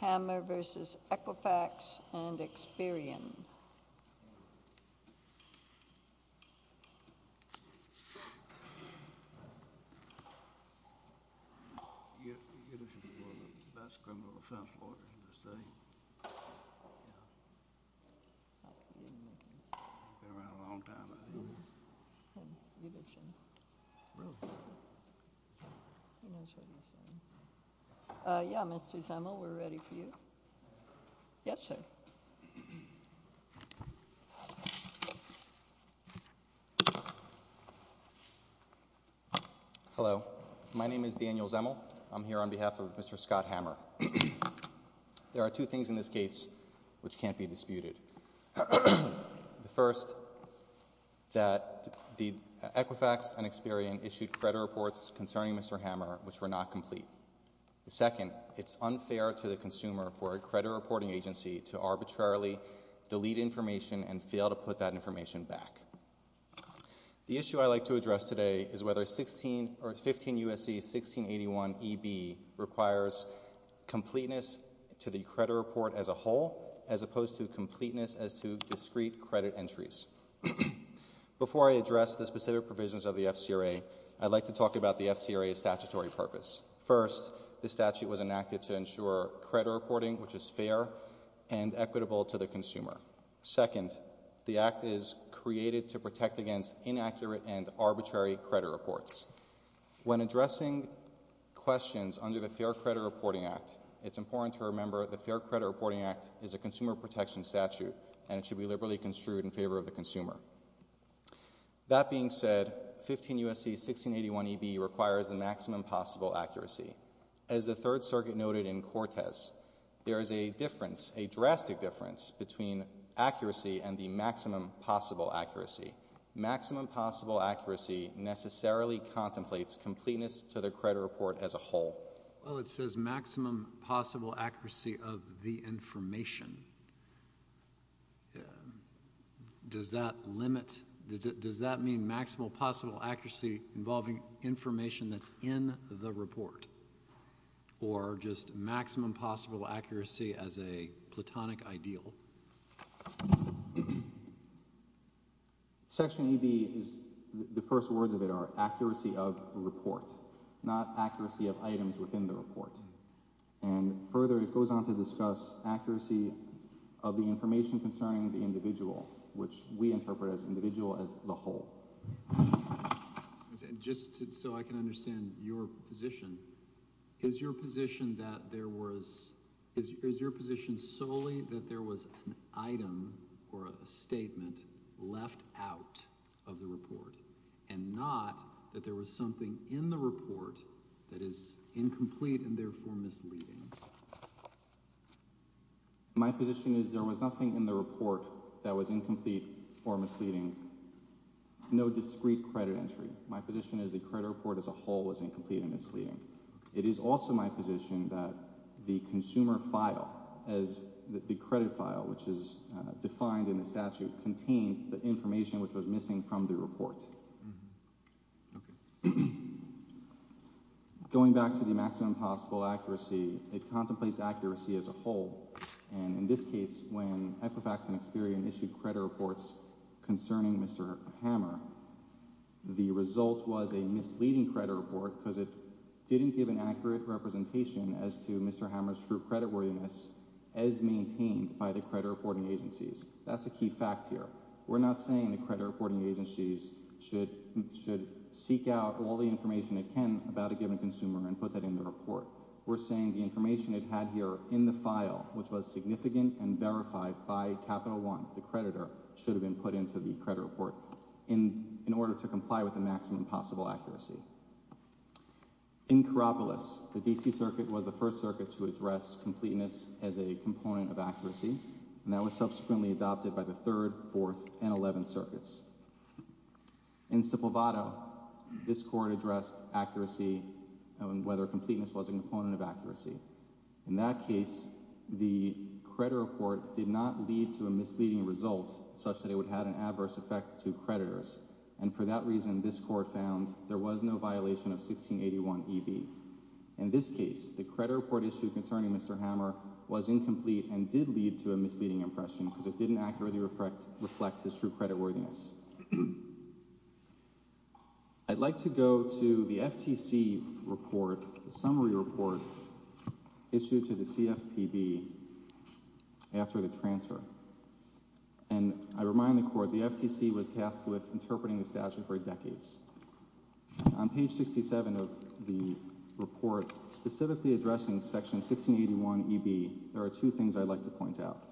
Hammer v. Equifax and Experian You're listening to one of the best criminal defense lawyers in the state. Yeah. Been around a long time, hasn't he? He lives here. Really? He knows where he's from. Yeah, Mr. Samuel, we're ready for you. Yes, sir. Hello, my name is Daniel Zemel. I'm here on behalf of Mr. Scott Hammer. There are two things in this case which can't be disputed. The first, that Equifax and Experian issued credit reports concerning Mr. Hammer which were not complete. The second, it's unfair to the consumer for a credit reporting agency to arbitrarily delete information and fail to put that information back. The issue I'd like to address today is whether 15 U.S.C. 1681 E.B. requires completeness to the credit report as a whole as opposed to completeness as to discrete credit entries. Before I address the specific provisions of the FCRA, I'd like to talk about the FCRA's statutory purpose. First, the statute was enacted to ensure credit reporting, which is fair and equitable to the consumer. Second, the act is created to protect against inaccurate and arbitrary credit reports. When addressing questions under the Fair Credit Reporting Act, it's important to remember the Fair Credit Reporting Act is a consumer protection statute, and it should be liberally construed in favor of the consumer. That being said, 15 U.S.C. 1681 E.B. requires the maximum possible accuracy. As the Third Circuit noted in Cortez, there is a difference, a drastic difference, between accuracy and the maximum possible accuracy. Maximum possible accuracy necessarily contemplates completeness to the credit report as a whole. Well, it says maximum possible accuracy of the information. Does that limit, does that mean maximum possible accuracy involving information that's in the report? Or just maximum possible accuracy as a platonic ideal? Section E.B. is, the first words of it are accuracy of report, not accuracy of items within the report. And further, it goes on to discuss accuracy of the information concerning the individual, which we interpret as individual as the whole. Just so I can understand your position, is your position that there was, is your position solely that there was an item or a statement left out of the report, and not that there was something in the report that is incomplete and therefore misleading? My position is there was nothing in the report that was incomplete or misleading. No discrete credit entry. My position is the credit report as a whole was incomplete and misleading. It is also my position that the consumer file, as the credit file, which is defined in the statute, contained the information which was missing from the report. Okay. Going back to the maximum possible accuracy, it contemplates accuracy as a whole. And in this case, when Equifax and Experian issued credit reports concerning Mr. Hammer, the result was a misleading credit report because it didn't give an accurate representation as to Mr. Hammer's true creditworthiness as maintained by the credit reporting agencies. That's a key fact here. We're not saying the credit reporting agencies should seek out all the information they can about a given consumer and put that in the report. We're saying the information it had here in the file, which was significant and verified by Capital One, the creditor, should have been put into the credit report in order to comply with the maximum possible accuracy. In Karopoulos, the D.C. Circuit was the first circuit to address completeness as a component of accuracy, and that was subsequently adopted by the Third, Fourth, and Eleventh Circuits. In Sipovato, this court addressed accuracy and whether completeness was a component of accuracy. In that case, the credit report did not lead to a misleading result such that it would have an adverse effect to creditors, and for that reason, this court found there was no violation of 1681EB. In this case, the credit report issue concerning Mr. Hammer was incomplete and did lead to a misleading impression because it didn't accurately reflect his true creditworthiness. I'd like to go to the FTC report, the summary report issued to the CFPB after the transfer, and I remind the court the FTC was tasked with interpreting the statute for decades. On page 67 of the report specifically addressing Section 1681EB, there are two things I'd like to point out.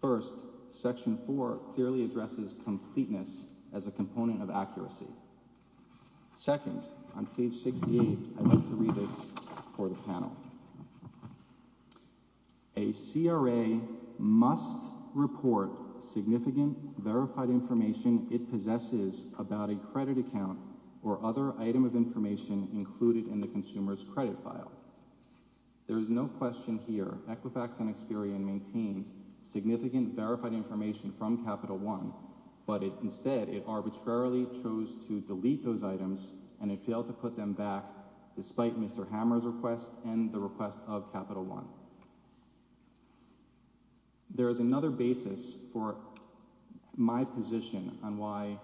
First, Section 4 clearly addresses completeness as a component of accuracy. Second, on page 68, I'd like to read this for the panel. A CRA must report significant verified information it possesses about a credit account or other item of information included in the consumer's credit file. There is no question here Equifax and Experian maintained significant verified information from Capital One, but instead it arbitrarily chose to delete those items and it failed to put them back despite Mr. Hammer's request and the request of Capital One. There is another basis for my position on why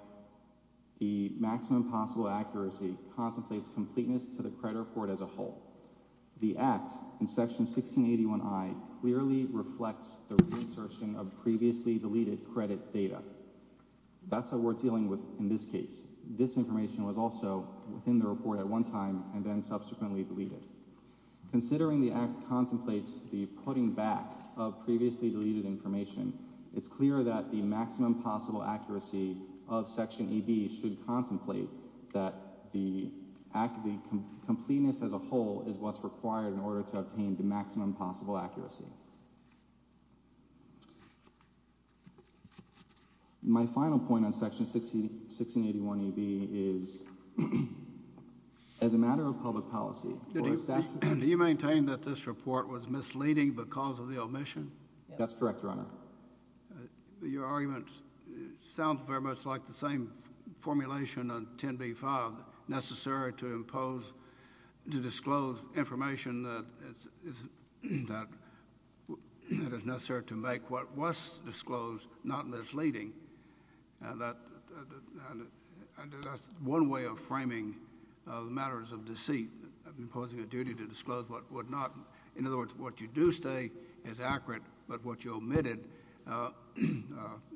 the maximum possible accuracy contemplates completeness to the credit report as a whole. The Act in Section 1681I clearly reflects the reassertion of previously deleted credit data. That's what we're dealing with in this case. This information was also within the report at one time and then subsequently deleted. Considering the Act contemplates the putting back of previously deleted information, it's clear that the maximum possible accuracy of Section EB should contemplate that the completeness as a whole is what's required in order to obtain the maximum possible accuracy. My final point on Section 1681EB is as a matter of public policy. Do you maintain that this report was misleading because of the omission? Your argument sounds very much like the same formulation on 10b-5, necessary to impose, to disclose information that is necessary to make what was disclosed not misleading. That's one way of framing matters of deceit, imposing a duty to disclose what would not. In other words, what you do say is accurate, but what you omitted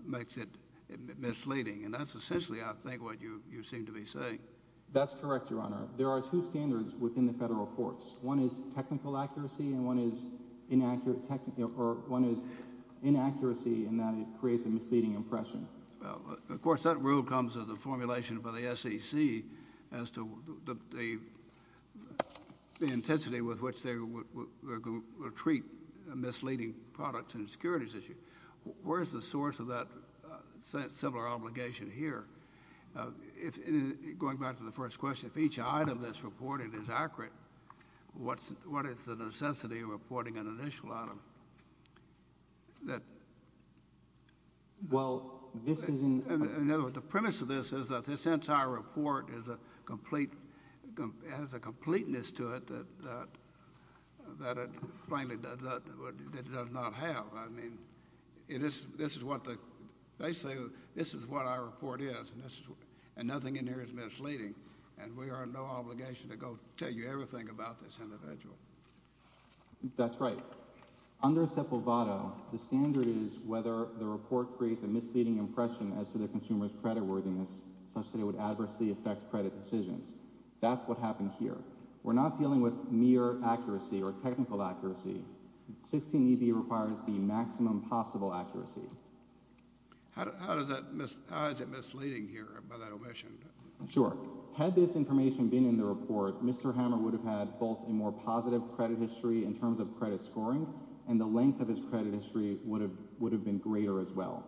makes it misleading. And that's essentially, I think, what you seem to be saying. That's correct, Your Honor. There are two standards within the federal courts. One is technical accuracy and one is inaccuracy in that it creates a misleading impression. Of course, that rule comes with the formulation by the SEC as to the intensity with which they would treat misleading products and securities issues. Where is the source of that similar obligation here? Going back to the first question, if each item that's reported is accurate, what is the necessity of reporting an initial item? The premise of this is that this entire report has a completeness to it that it plainly does not have. Basically, this is what our report is, and nothing in here is misleading, and we are in no obligation to go tell you everything about this individual. That's right. Under SEPA VATO, the standard is whether the report creates a misleading impression as to the consumer's creditworthiness such that it would adversely affect credit decisions. That's what happened here. We're not dealing with mere accuracy or technical accuracy. 16EB requires the maximum possible accuracy. How is it misleading here by that omission? Sure. Had this information been in the report, Mr. Hammer would have had both a more positive credit history in terms of credit scoring and the length of his credit history would have been greater as well.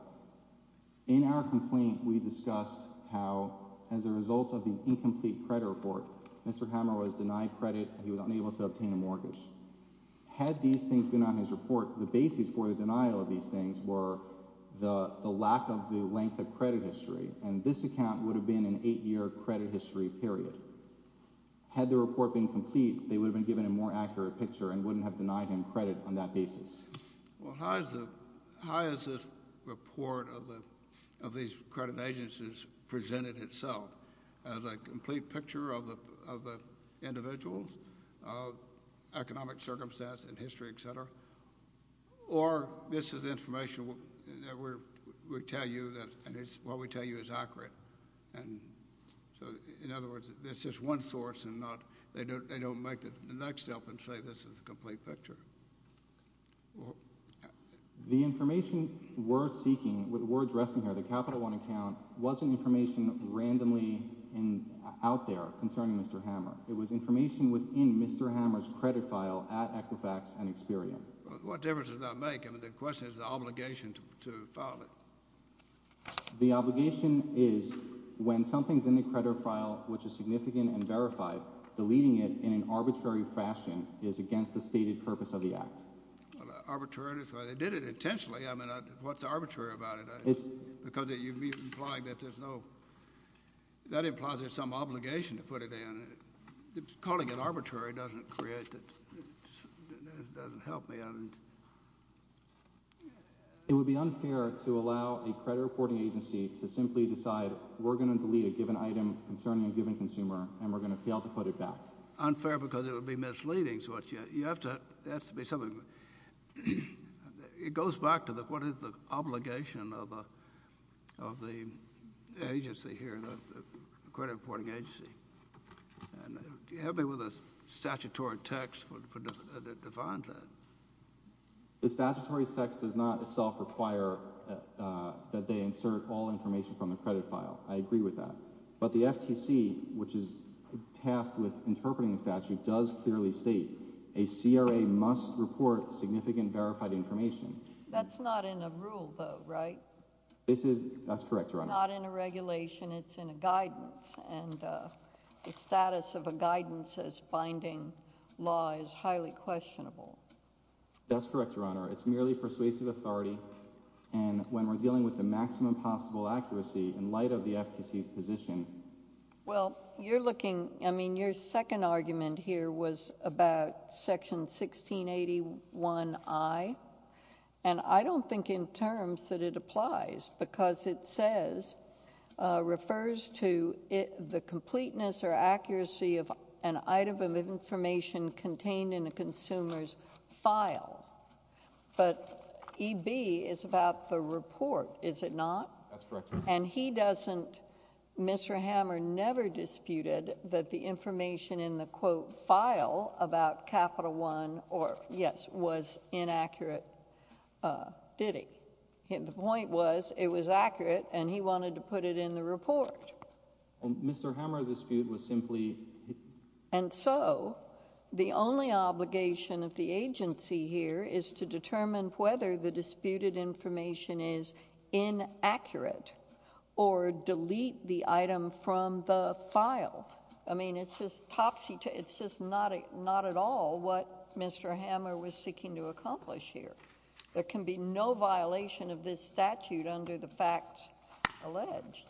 In our complaint, we discussed how, as a result of the incomplete credit report, Mr. Hammer was denied credit and he was unable to obtain a mortgage. Had these things been on his report, the basis for the denial of these things were the lack of the length of credit history, and this account would have been an eight-year credit history period. Had the report been complete, they would have been given a more accurate picture and wouldn't have denied him credit on that basis. Well, how is this report of these credit agencies presented itself as a complete picture of the individuals, economic circumstance and history, et cetera? Or this is information that we tell you, and what we tell you is accurate. In other words, it's just one source and they don't make the next up and say this is a complete picture. The information we're seeking, we're addressing here, the Capital One account, wasn't information randomly out there concerning Mr. Hammer. It was information within Mr. Hammer's credit file at Equifax and Experian. What difference does that make? I mean, the question is the obligation to file it. The obligation is when something's in the credit file which is significant and verified, deleting it in an arbitrary fashion is against the stated purpose of the act. Arbitrary, that's why they did it intentionally. I mean, what's arbitrary about it? Because you're implying that there's no – that implies there's some obligation to put it in. Calling it arbitrary doesn't create – doesn't help me. It would be unfair to allow a credit reporting agency to simply decide we're going to delete a given item concerning a given consumer and we're going to fail to put it back. Unfair because it would be misleading. You have to – it has to be something – it goes back to what is the obligation of the agency here, the credit reporting agency. And help me with the statutory text that defines that. The statutory text does not itself require that they insert all information from the credit file. I agree with that. But the FTC, which is tasked with interpreting the statute, does clearly state a CRA must report significant verified information. That's not in a rule, though, right? This is – that's correct, Your Honor. It's not in a regulation. It's in a guidance, and the status of a guidance as binding law is highly questionable. That's correct, Your Honor. It's merely persuasive authority, and when we're dealing with the maximum possible accuracy in light of the FTC's position – Well, you're looking – I mean, your second argument here was about Section 1681I, and I don't think in terms that it applies because it says – refers to the completeness or accuracy of an item of information contained in a consumer's file. But EB is about the report, is it not? That's correct, Your Honor. And he doesn't – Mr. Hammer never disputed that the information in the, quote, file about Capital One or – yes, was inaccurate, did he? The point was it was accurate, and he wanted to put it in the report. Well, Mr. Hammer's dispute was simply – And so the only obligation of the agency here is to determine whether the disputed information is inaccurate or delete the item from the file. I mean, it's just topsy-turvy. It's just not at all what Mr. Hammer was seeking to accomplish here. There can be no violation of this statute under the facts alleged.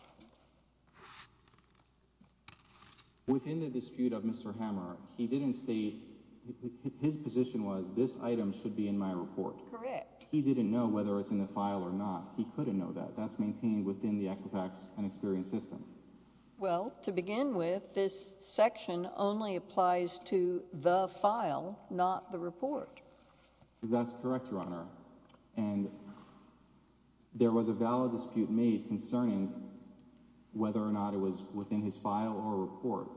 Within the dispute of Mr. Hammer, he didn't state – his position was this item should be in my report. Correct. He didn't know whether it's in the file or not. He couldn't know that. That's maintained within the Equifax and Experian system. Well, to begin with, this section only applies to the file, not the report. That's correct, Your Honor. And there was a valid dispute made concerning whether or not it was within his file or report.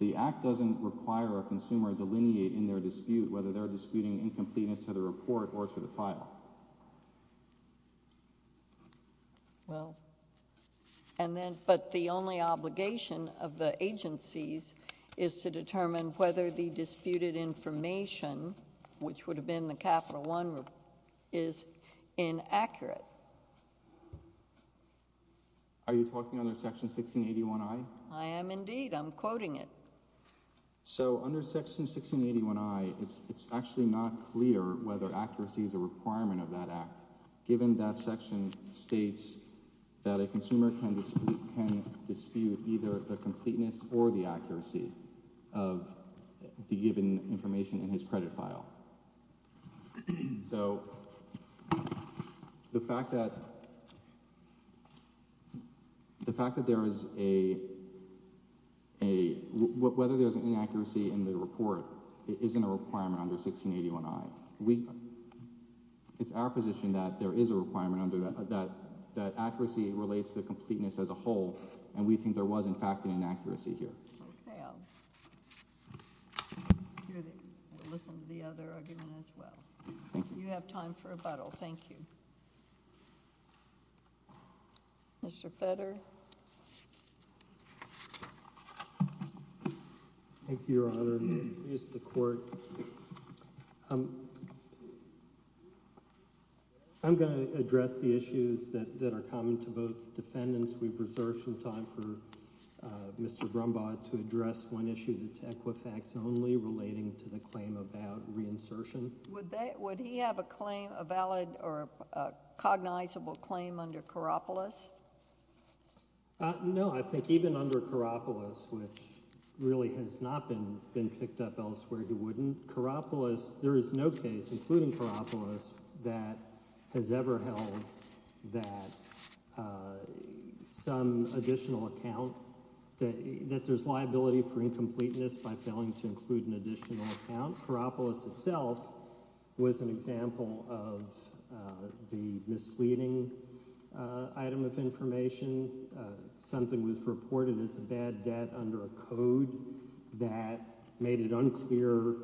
The Act doesn't require a consumer to delineate in their dispute whether they're disputing incompleteness to the report or to the file. Well, and then – but the only obligation of the agencies is to determine whether the disputed information, which would have been the Capital I report, is inaccurate. Are you talking under Section 1681I? I am indeed. I'm quoting it. So under Section 1681I, it's actually not clear whether accuracy is a requirement of that act given that section states that a consumer can dispute either the completeness or the accuracy of the given information in his credit file. So the fact that there is a – whether there's an inaccuracy in the report isn't a requirement under 1681I. It's our position that there is a requirement under that that accuracy relates to completeness as a whole, and we think there was, in fact, an inaccuracy here. Okay, I'll hear the – I'll listen to the other argument as well. You have time for rebuttal. Thank you. Mr. Feder? Thank you, Your Honor. I'm going to address the issues that are common to both defendants. We've reserved some time for Mr. Brumbaugh to address one issue that's Equifax-only relating to the claim about reinsertion. Would he have a claim – a valid or cognizable claim under Karopoulos? No, I think even under Karopoulos, which really has not been picked up elsewhere, he wouldn't. Karopoulos – there is no case, including Karopoulos, that has ever held that some additional account – that there's liability for incompleteness by failing to include an additional account. Karopoulos itself was an example of the misleading item of information. Something was reported as a bad debt under a code that made it unclear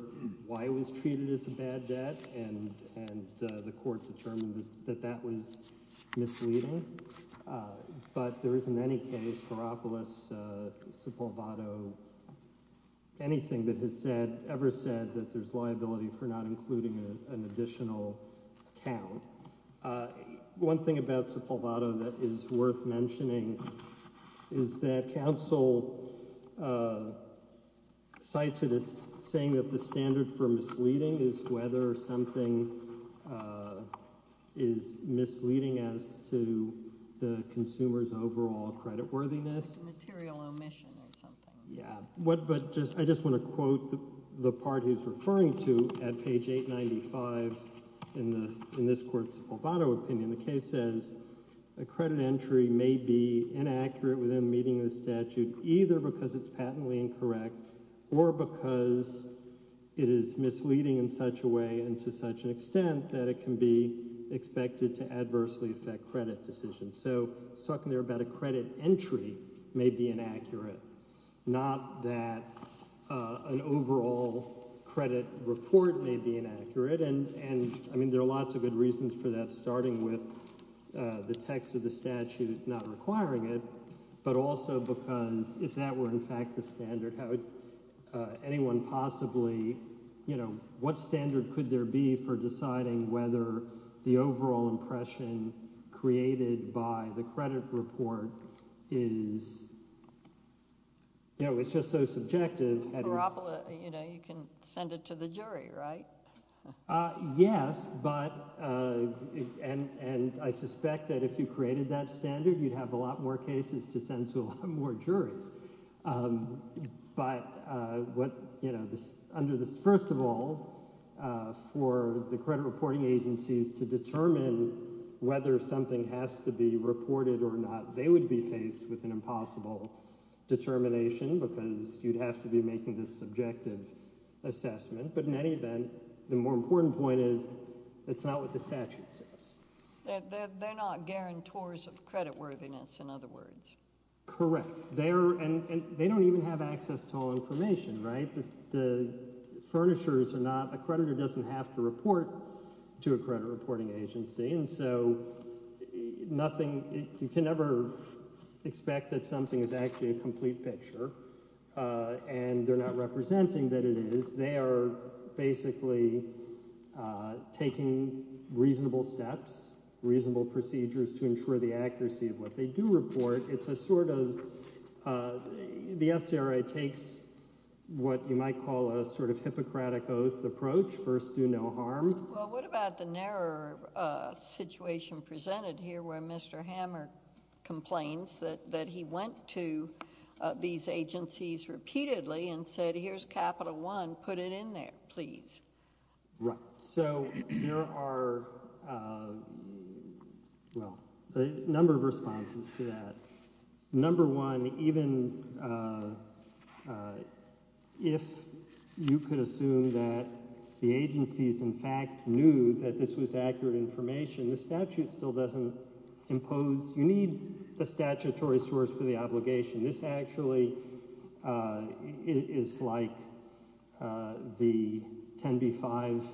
why it was treated as a bad debt, and the court determined that that was misleading. But there isn't any case – Karopoulos, Sepulveda – anything that has said – ever said that there's liability for not including an additional account. One thing about Sepulveda that is worth mentioning is that counsel cites it as saying that the standard for misleading is whether something is misleading as to the consumer's overall creditworthiness. Material omission or something. I just want to quote the part he's referring to at page 895 in this court's Albano opinion. The case says, a credit entry may be inaccurate within the meaning of the statute either because it's patently incorrect or because it is misleading in such a way and to such an extent that it can be expected to adversely affect credit decisions. So he's talking there about a credit entry may be inaccurate, not that an overall credit report may be inaccurate. And I mean there are lots of good reasons for that, starting with the text of the statute not requiring it, but also because if that were in fact the standard, how would anyone possibly – what standard could there be for deciding whether the overall impression created by the credit report is – it's just so subjective. You can send it to the jury, right? Yes, but – and I suspect that if you created that standard, you'd have a lot more cases to send to a lot more juries. But what – under this – first of all, for the credit reporting agencies to determine whether something has to be reported or not, they would be faced with an impossible determination because you'd have to be making this subjective assessment. But in any event, the more important point is it's not what the statute says. They're not guarantors of creditworthiness, in other words. Correct. They're – and they don't even have access to all information, right? The furnishers are not – a creditor doesn't have to report to a credit reporting agency, and so nothing – you can never expect that something is actually a complete picture and they're not representing that it is. They are basically taking reasonable steps, reasonable procedures to ensure the accuracy of what they do report. It's a sort of – the SCRA takes what you might call a sort of Hippocratic Oath approach, first do no harm. Well, what about the narrower situation presented here where Mr. Hammer complains that he went to these agencies repeatedly and said, here's Capital One. Put it in there, please. Right. So there are – well, a number of responses to that. Number one, even if you could assume that the agencies in fact knew that this was accurate information, the statute still doesn't impose – you need a statutory source for the obligation. This actually is like the 10b-5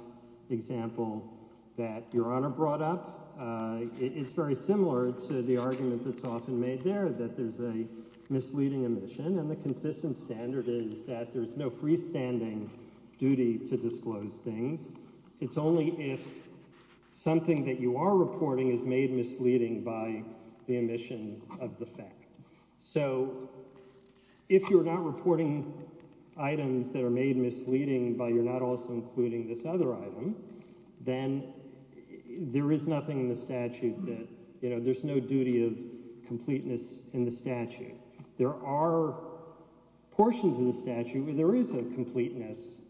example that Your Honor brought up. It's very similar to the argument that's often made there that there's a misleading omission, and the consistent standard is that there's no freestanding duty to disclose things. It's only if something that you are reporting is made misleading by the omission of the fact. So if you're not reporting items that are made misleading but you're not also including this other item, then there is nothing in the statute that – there's no duty of completeness in the statute. There are portions of the statute where there is a completeness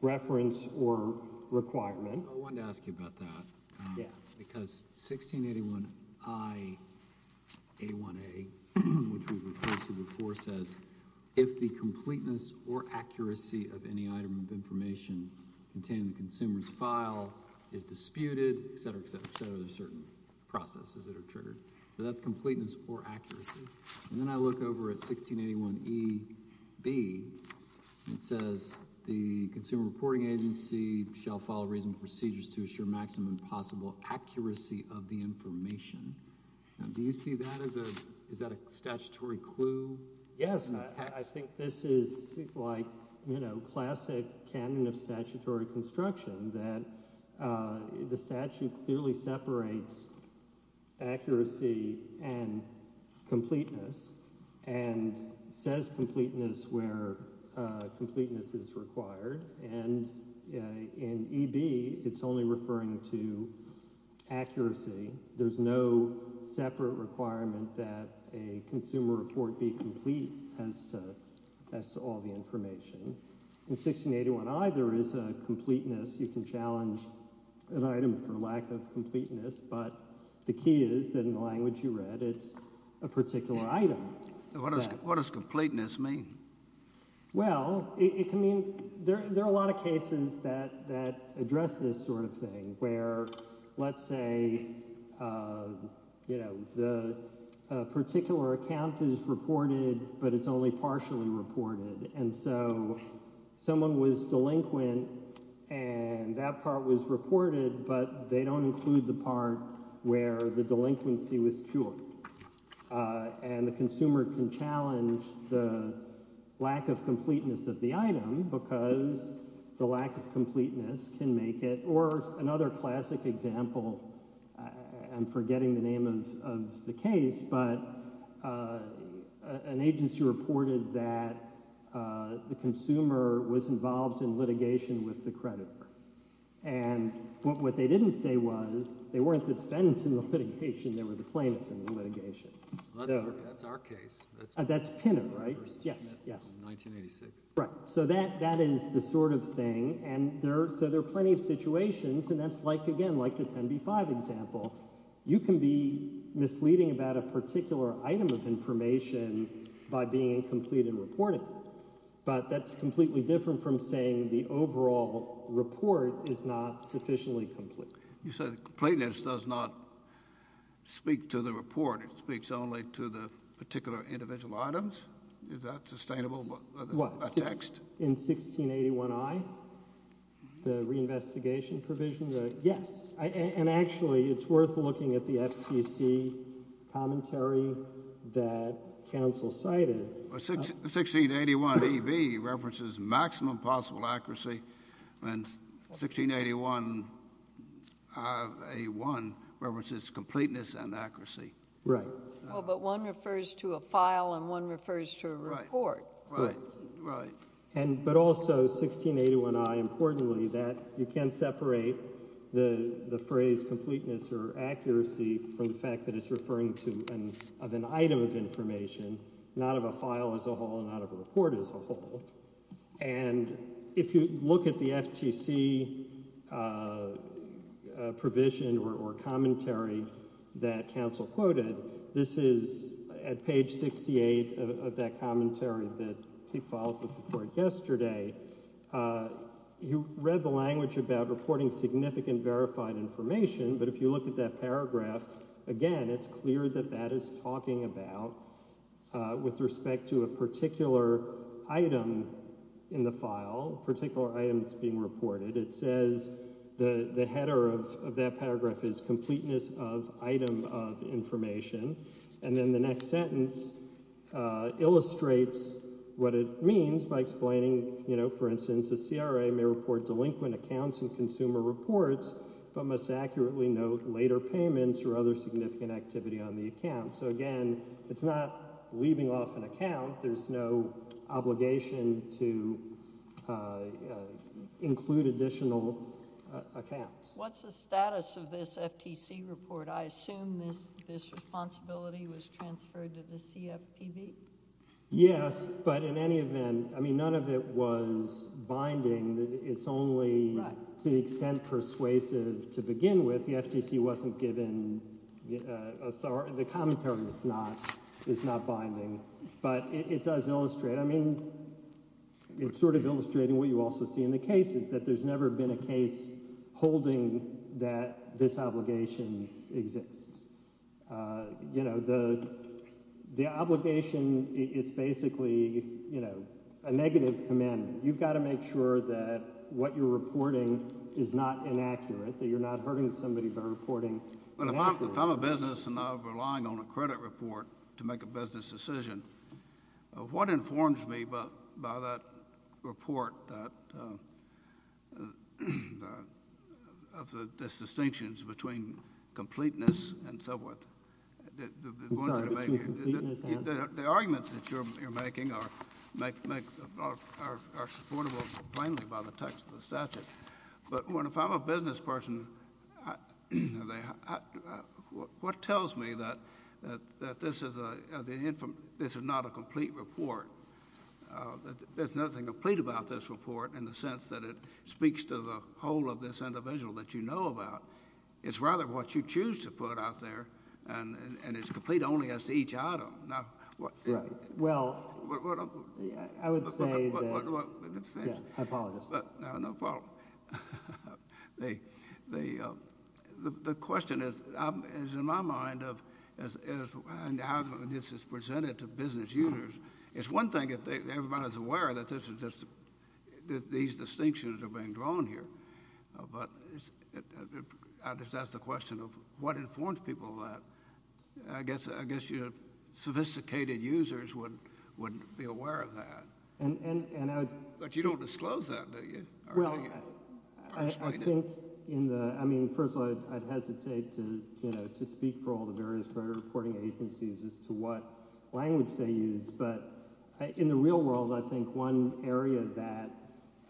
reference or requirement. I wanted to ask you about that because 1681I-A1A, which we've referred to before, says if the completeness or accuracy of any item of information contained in the consumer's file is disputed, etc., etc., etc., there are certain processes that are triggered. So that's completeness or accuracy. And then I look over at 1681E-B, and it says the Consumer Reporting Agency shall follow reasonable procedures to assure maximum possible accuracy of the information. Now do you see that as a – is that a statutory clue in the text? I think this is like classic canon of statutory construction that the statute clearly separates accuracy and completeness and says completeness where completeness is required. And in EB, it's only referring to accuracy. There's no separate requirement that a consumer report be complete as to all the information. In 1681I, there is a completeness. You can challenge an item for lack of completeness, but the key is that in the language you read, it's a particular item. What does completeness mean? Well, it can mean – there are a lot of cases that address this sort of thing where, let's say, the particular account is reported, but it's only partially reported. And so someone was delinquent, and that part was reported, but they don't include the part where the delinquency was cured. And the consumer can challenge the lack of completeness of the item because the lack of completeness can make it – or another classic example. I'm forgetting the name of the case, but an agency reported that the consumer was involved in litigation with the creditor. And what they didn't say was they weren't the defendants in the litigation. They were the plaintiffs in the litigation. That's our case. That's Pinner, right? Yes, yes. In 1986. Right. So that is the sort of thing, and so there are plenty of situations, and that's like, again, like the 10b-5 example. You can be misleading about a particular item of information by being incomplete in reporting. But that's completely different from saying the overall report is not sufficiently complete. You said completeness does not speak to the report. It speaks only to the particular individual items. Is that sustainable? What? A text? In 1681i, the reinvestigation provision? Yes. And actually, it's worth looking at the FTC commentary that counsel cited. 1681e-b references maximum possible accuracy, and 1681a-1 references completeness and accuracy. Right. Well, but one refers to a file and one refers to a report. Right, right. But also, 1681i, importantly, you can't separate the phrase completeness or accuracy from the fact that it's referring to an item of information, not of a file as a whole, not of a report as a whole. And if you look at the FTC provision or commentary that counsel quoted, this is at page 68 of that commentary that he filed with the court yesterday. He read the language about reporting significant verified information, but if you look at that paragraph, again, it's clear that that is talking about with respect to a particular item in the file, particular item that's being reported. It says the header of that paragraph is completeness of item of information. And then the next sentence illustrates what it means by explaining, you know, for instance, a CRA may report delinquent accounts in consumer reports, but must accurately note later payments or other significant activity on the account. So, again, it's not leaving off an account. There's no obligation to include additional accounts. What's the status of this FTC report? I assume this responsibility was transferred to the CFPB? Yes, but in any event, I mean, none of it was binding. It's only to the extent persuasive to begin with. The FTC wasn't given authority. The commentary is not binding, but it does illustrate. I mean, it's sort of illustrating what you also see in the cases, that there's never been a case holding that this obligation exists. You know, the obligation is basically, you know, a negative commandment. You've got to make sure that what you're reporting is not inaccurate, that you're not hurting somebody by reporting inaccurate. If I'm a business and I'm relying on a credit report to make a business decision, what informs me by that report of the distinctions between completeness and so forth? The arguments that you're making are supportable plainly by the text of the statute. But if I'm a business person, what tells me that this is not a complete report? There's nothing complete about this report in the sense that it speaks to the whole of this individual that you know about. It's rather what you choose to put out there, and it's complete only as to each item. Well, I would say that, yeah, I apologize. No problem. The question is in my mind of how this is presented to business users. It's one thing if everybody's aware that these distinctions are being drawn here, but that's the question of what informs people of that. I guess sophisticated users wouldn't be aware of that. But you don't disclose that, do you? Well, I think in the—I mean, first of all, I'd hesitate to speak for all the various credit reporting agencies as to what language they use. But in the real world, I think one area that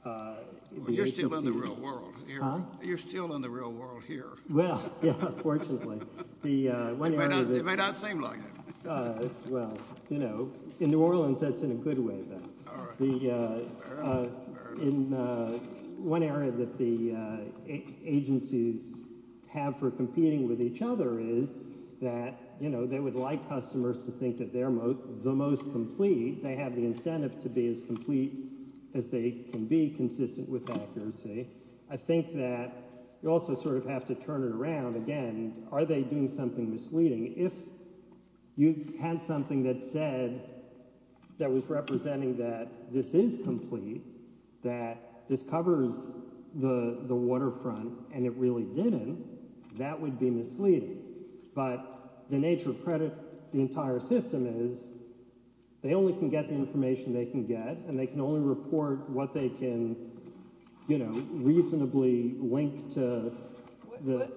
the agencies— Well, you're still in the real world here. Huh? You're still in the real world here. Well, yeah, fortunately. It may not seem like it. Well, you know, in New Orleans, that's in a good way, though. All right. In one area that the agencies have for competing with each other is that, you know, they would like customers to think that they're the most complete. They have the incentive to be as complete as they can be consistent with accuracy. I think that you also sort of have to turn it around. Again, are they doing something misleading? If you had something that said—that was representing that this is complete, that this covers the waterfront, and it really didn't, that would be misleading. But the nature of credit in the entire system is they only can get the information they can get, and they can only report what they can, you know, reasonably link to the—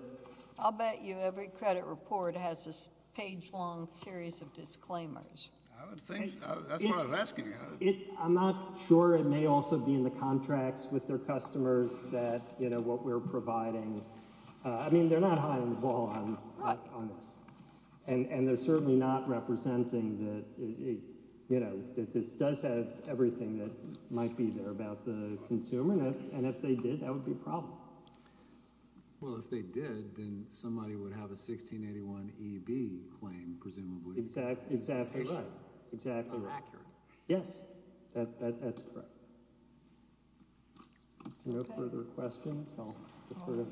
I'll bet you every credit report has this page-long series of disclaimers. I would think—that's what I was asking you. I'm not sure. It may also be in the contracts with their customers that, you know, what we're providing. I mean, they're not hiding the ball on this, and they're certainly not representing that, you know, that this does have everything that might be there about the consumer, and if they did, that would be a problem. Well, if they did, then somebody would have a 1681EB claim, presumably. Exactly right. It's not accurate. Yes. That's correct. If there are no further questions, I'll defer.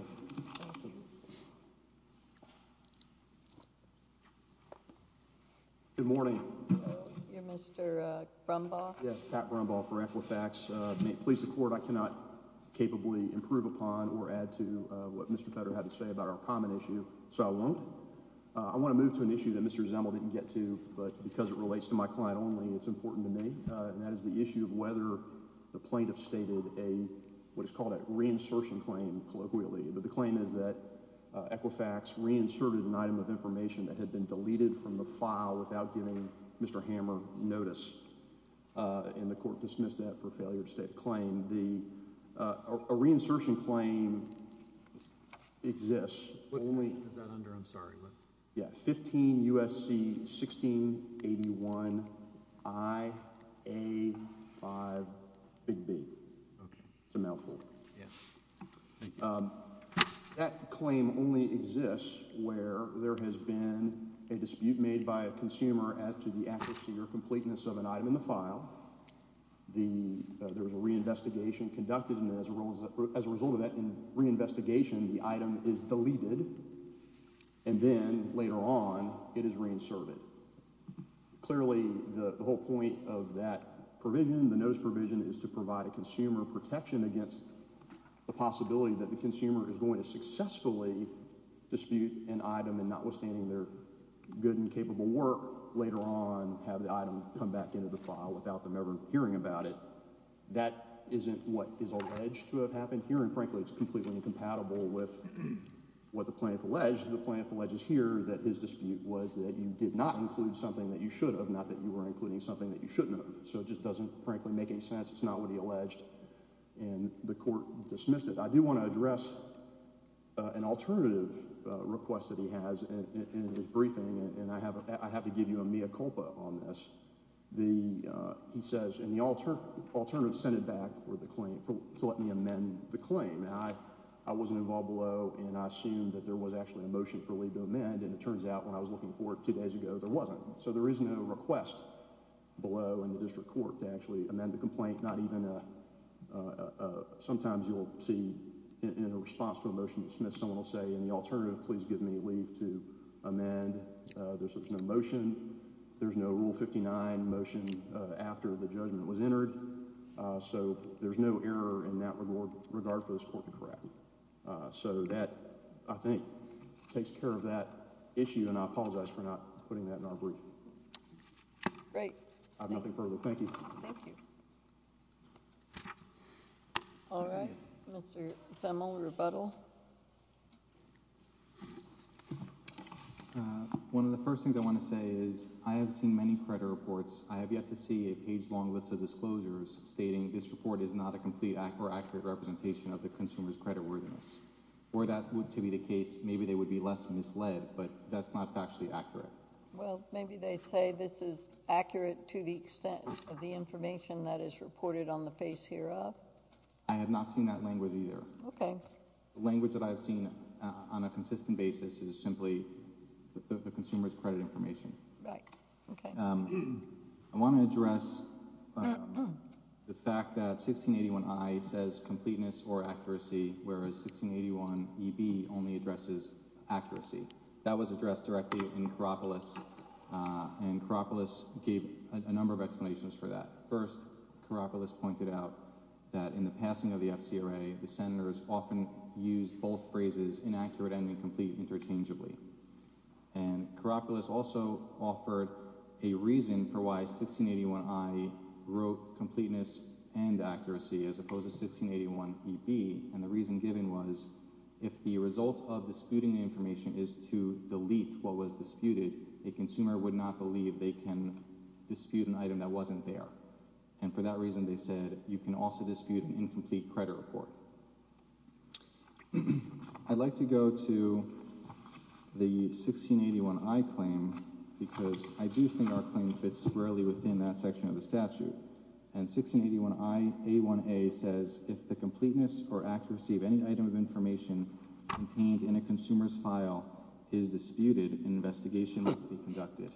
Good morning. You're Mr. Brumbaugh? Yes, Pat Brumbaugh for Amplifax. May it please the Court, I cannot capably improve upon or add to what Mr. Federer had to say about our common issue, so I won't. I want to move to an issue that Mr. Zemel didn't get to, but because it relates to my client only, it's important to me, and that is the issue of whether the plaintiff stated a, what is called a reinsertion claim, colloquially, but the claim is that Equifax reinserted an item of information that had been deleted from the file without giving Mr. Hammer notice, and the Court dismissed that for failure to state the claim. A reinsertion claim exists. What section is that under? I'm sorry. Yeah, 15 U.S.C. 1681 I.A. 5 Big B. Okay. It's a mouthful. Yes. That claim only exists where there has been a dispute made by a consumer as to the accuracy or completeness of an item in the file. There was a reinvestigation conducted, and as a result of that reinvestigation, the item is deleted, and then later on it is reinserted. Clearly the whole point of that provision, the notice provision, is to provide a consumer protection against the possibility that the consumer is going to successfully dispute an item, and notwithstanding their good and capable work, later on have the item come back into the file without them ever hearing about it. That isn't what is alleged to have happened here, and frankly it's completely incompatible with what the plaintiff alleged. The plaintiff alleges here that his dispute was that you did not include something that you should have, not that you were including something that you shouldn't have. So it just doesn't frankly make any sense. It's not what he alleged, and the Court dismissed it. I do want to address an alternative request that he has in his briefing, and I have to give you a mea culpa on this. He says, and the alternative sent it back to let me amend the claim. I wasn't involved below, and I assumed that there was actually a motion for leave to amend, and it turns out when I was looking for it two days ago, there wasn't. So there is no request below in the District Court to actually amend the complaint. Sometimes you'll see in a response to a motion dismissed, someone will say, in the alternative, please give me leave to amend. There's no motion. There's no Rule 59 motion after the judgment was entered. So there's no error in that regard for this Court to correct. So that, I think, takes care of that issue, and I apologize for not putting that in our brief. Great. I have nothing further. Thank you. Thank you. All right. Mr. Semel, rebuttal. One of the first things I want to say is I have seen many credit reports. I have yet to see a page-long list of disclosures stating this report is not a complete or accurate representation of the consumer's creditworthiness. Were that to be the case, maybe they would be less misled, but that's not factually accurate. Well, maybe they say this is accurate to the extent of the information that is reported on the face hereof. I have not seen that language either. Okay. The language that I have seen on a consistent basis is simply the consumer's credit information. Right. Okay. I want to address the fact that 1681I says completeness or accuracy, whereas 1681EB only addresses accuracy. That was addressed directly in Karopoulos, and Karopoulos gave a number of explanations for that. First, Karopoulos pointed out that in the passing of the FCRA, the senators often used both phrases, inaccurate and incomplete, interchangeably. And Karopoulos also offered a reason for why 1681I wrote completeness and accuracy as opposed to 1681EB, and the reason given was if the result of disputing the information is to delete what was disputed, a consumer would not believe they can dispute an item that wasn't there. And for that reason, they said you can also dispute an incomplete credit report. I'd like to go to the 1681I claim because I do think our claim fits squarely within that section of the statute. And 1681A1A says if the completeness or accuracy of any item of information contained in a consumer's file is disputed, an investigation must be conducted.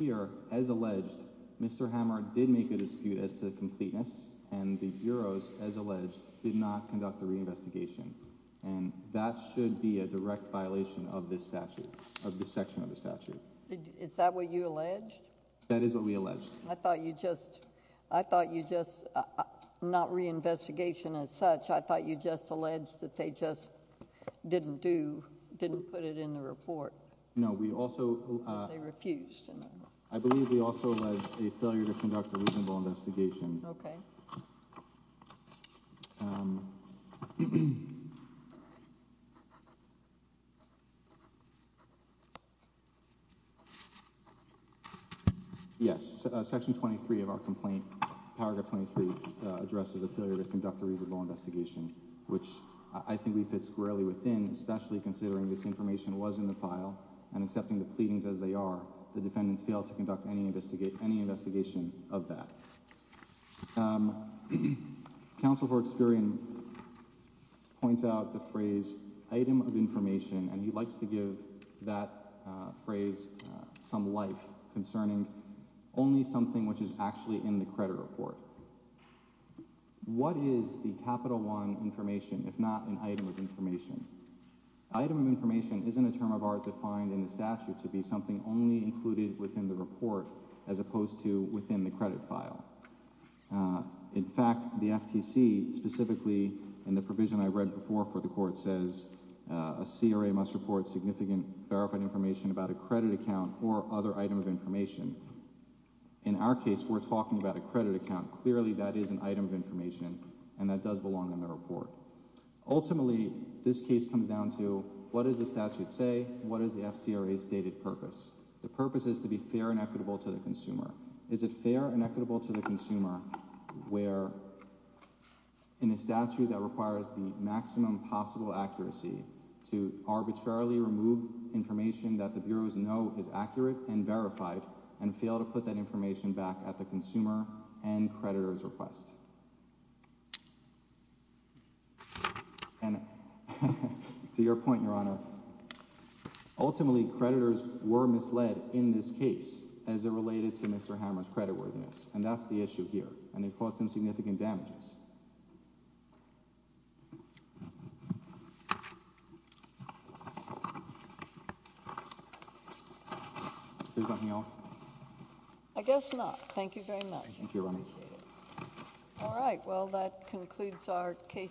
Here, as alleged, Mr. Hammer did make a dispute as to the completeness, and the bureaus, as alleged, did not conduct a reinvestigation. And that should be a direct violation of this statute, of this section of the statute. Is that what you alleged? That is what we alleged. I thought you just—I thought you just—not reinvestigation as such. I thought you just alleged that they just didn't do—didn't put it in the report. No, we also— They refused. I believe we also alleged a failure to conduct a reasonable investigation. Okay. Yes. Section 23 of our complaint, paragraph 23, addresses a failure to conduct a reasonable investigation, which I think we fit squarely within, especially considering this information was in the file and, accepting the pleadings as they are, the defendants failed to conduct any investigation of that. Counsel for Experian points out the phrase, item of information, and he likes to give that phrase some life, concerning only something which is actually in the credit report. What is the capital one information, if not an item of information? Item of information isn't a term of art defined in the statute to be something only included within the report as opposed to within the credit file. In fact, the FTC specifically, in the provision I read before for the court, says a CRA must report significant verified information about a credit account or other item of information. In our case, we're talking about a credit account. Clearly, that is an item of information, and that does belong in the report. Ultimately, this case comes down to what does the statute say? What is the FCRA's stated purpose? The purpose is to be fair and equitable to the consumer. Is it fair and equitable to the consumer where, in a statute that requires the maximum possible accuracy to arbitrarily remove information that the bureaus know is accurate and verified, and fail to put that information back at the consumer and creditor's request? And to your point, Your Honor, ultimately, creditors were misled in this case as it related to Mr. Hammer's creditworthiness. And that's the issue here, and it caused him significant damages. Is there something else? I guess not. Thank you very much. Thank you, Your Honor. I appreciate it. All right. Well, that concludes our case.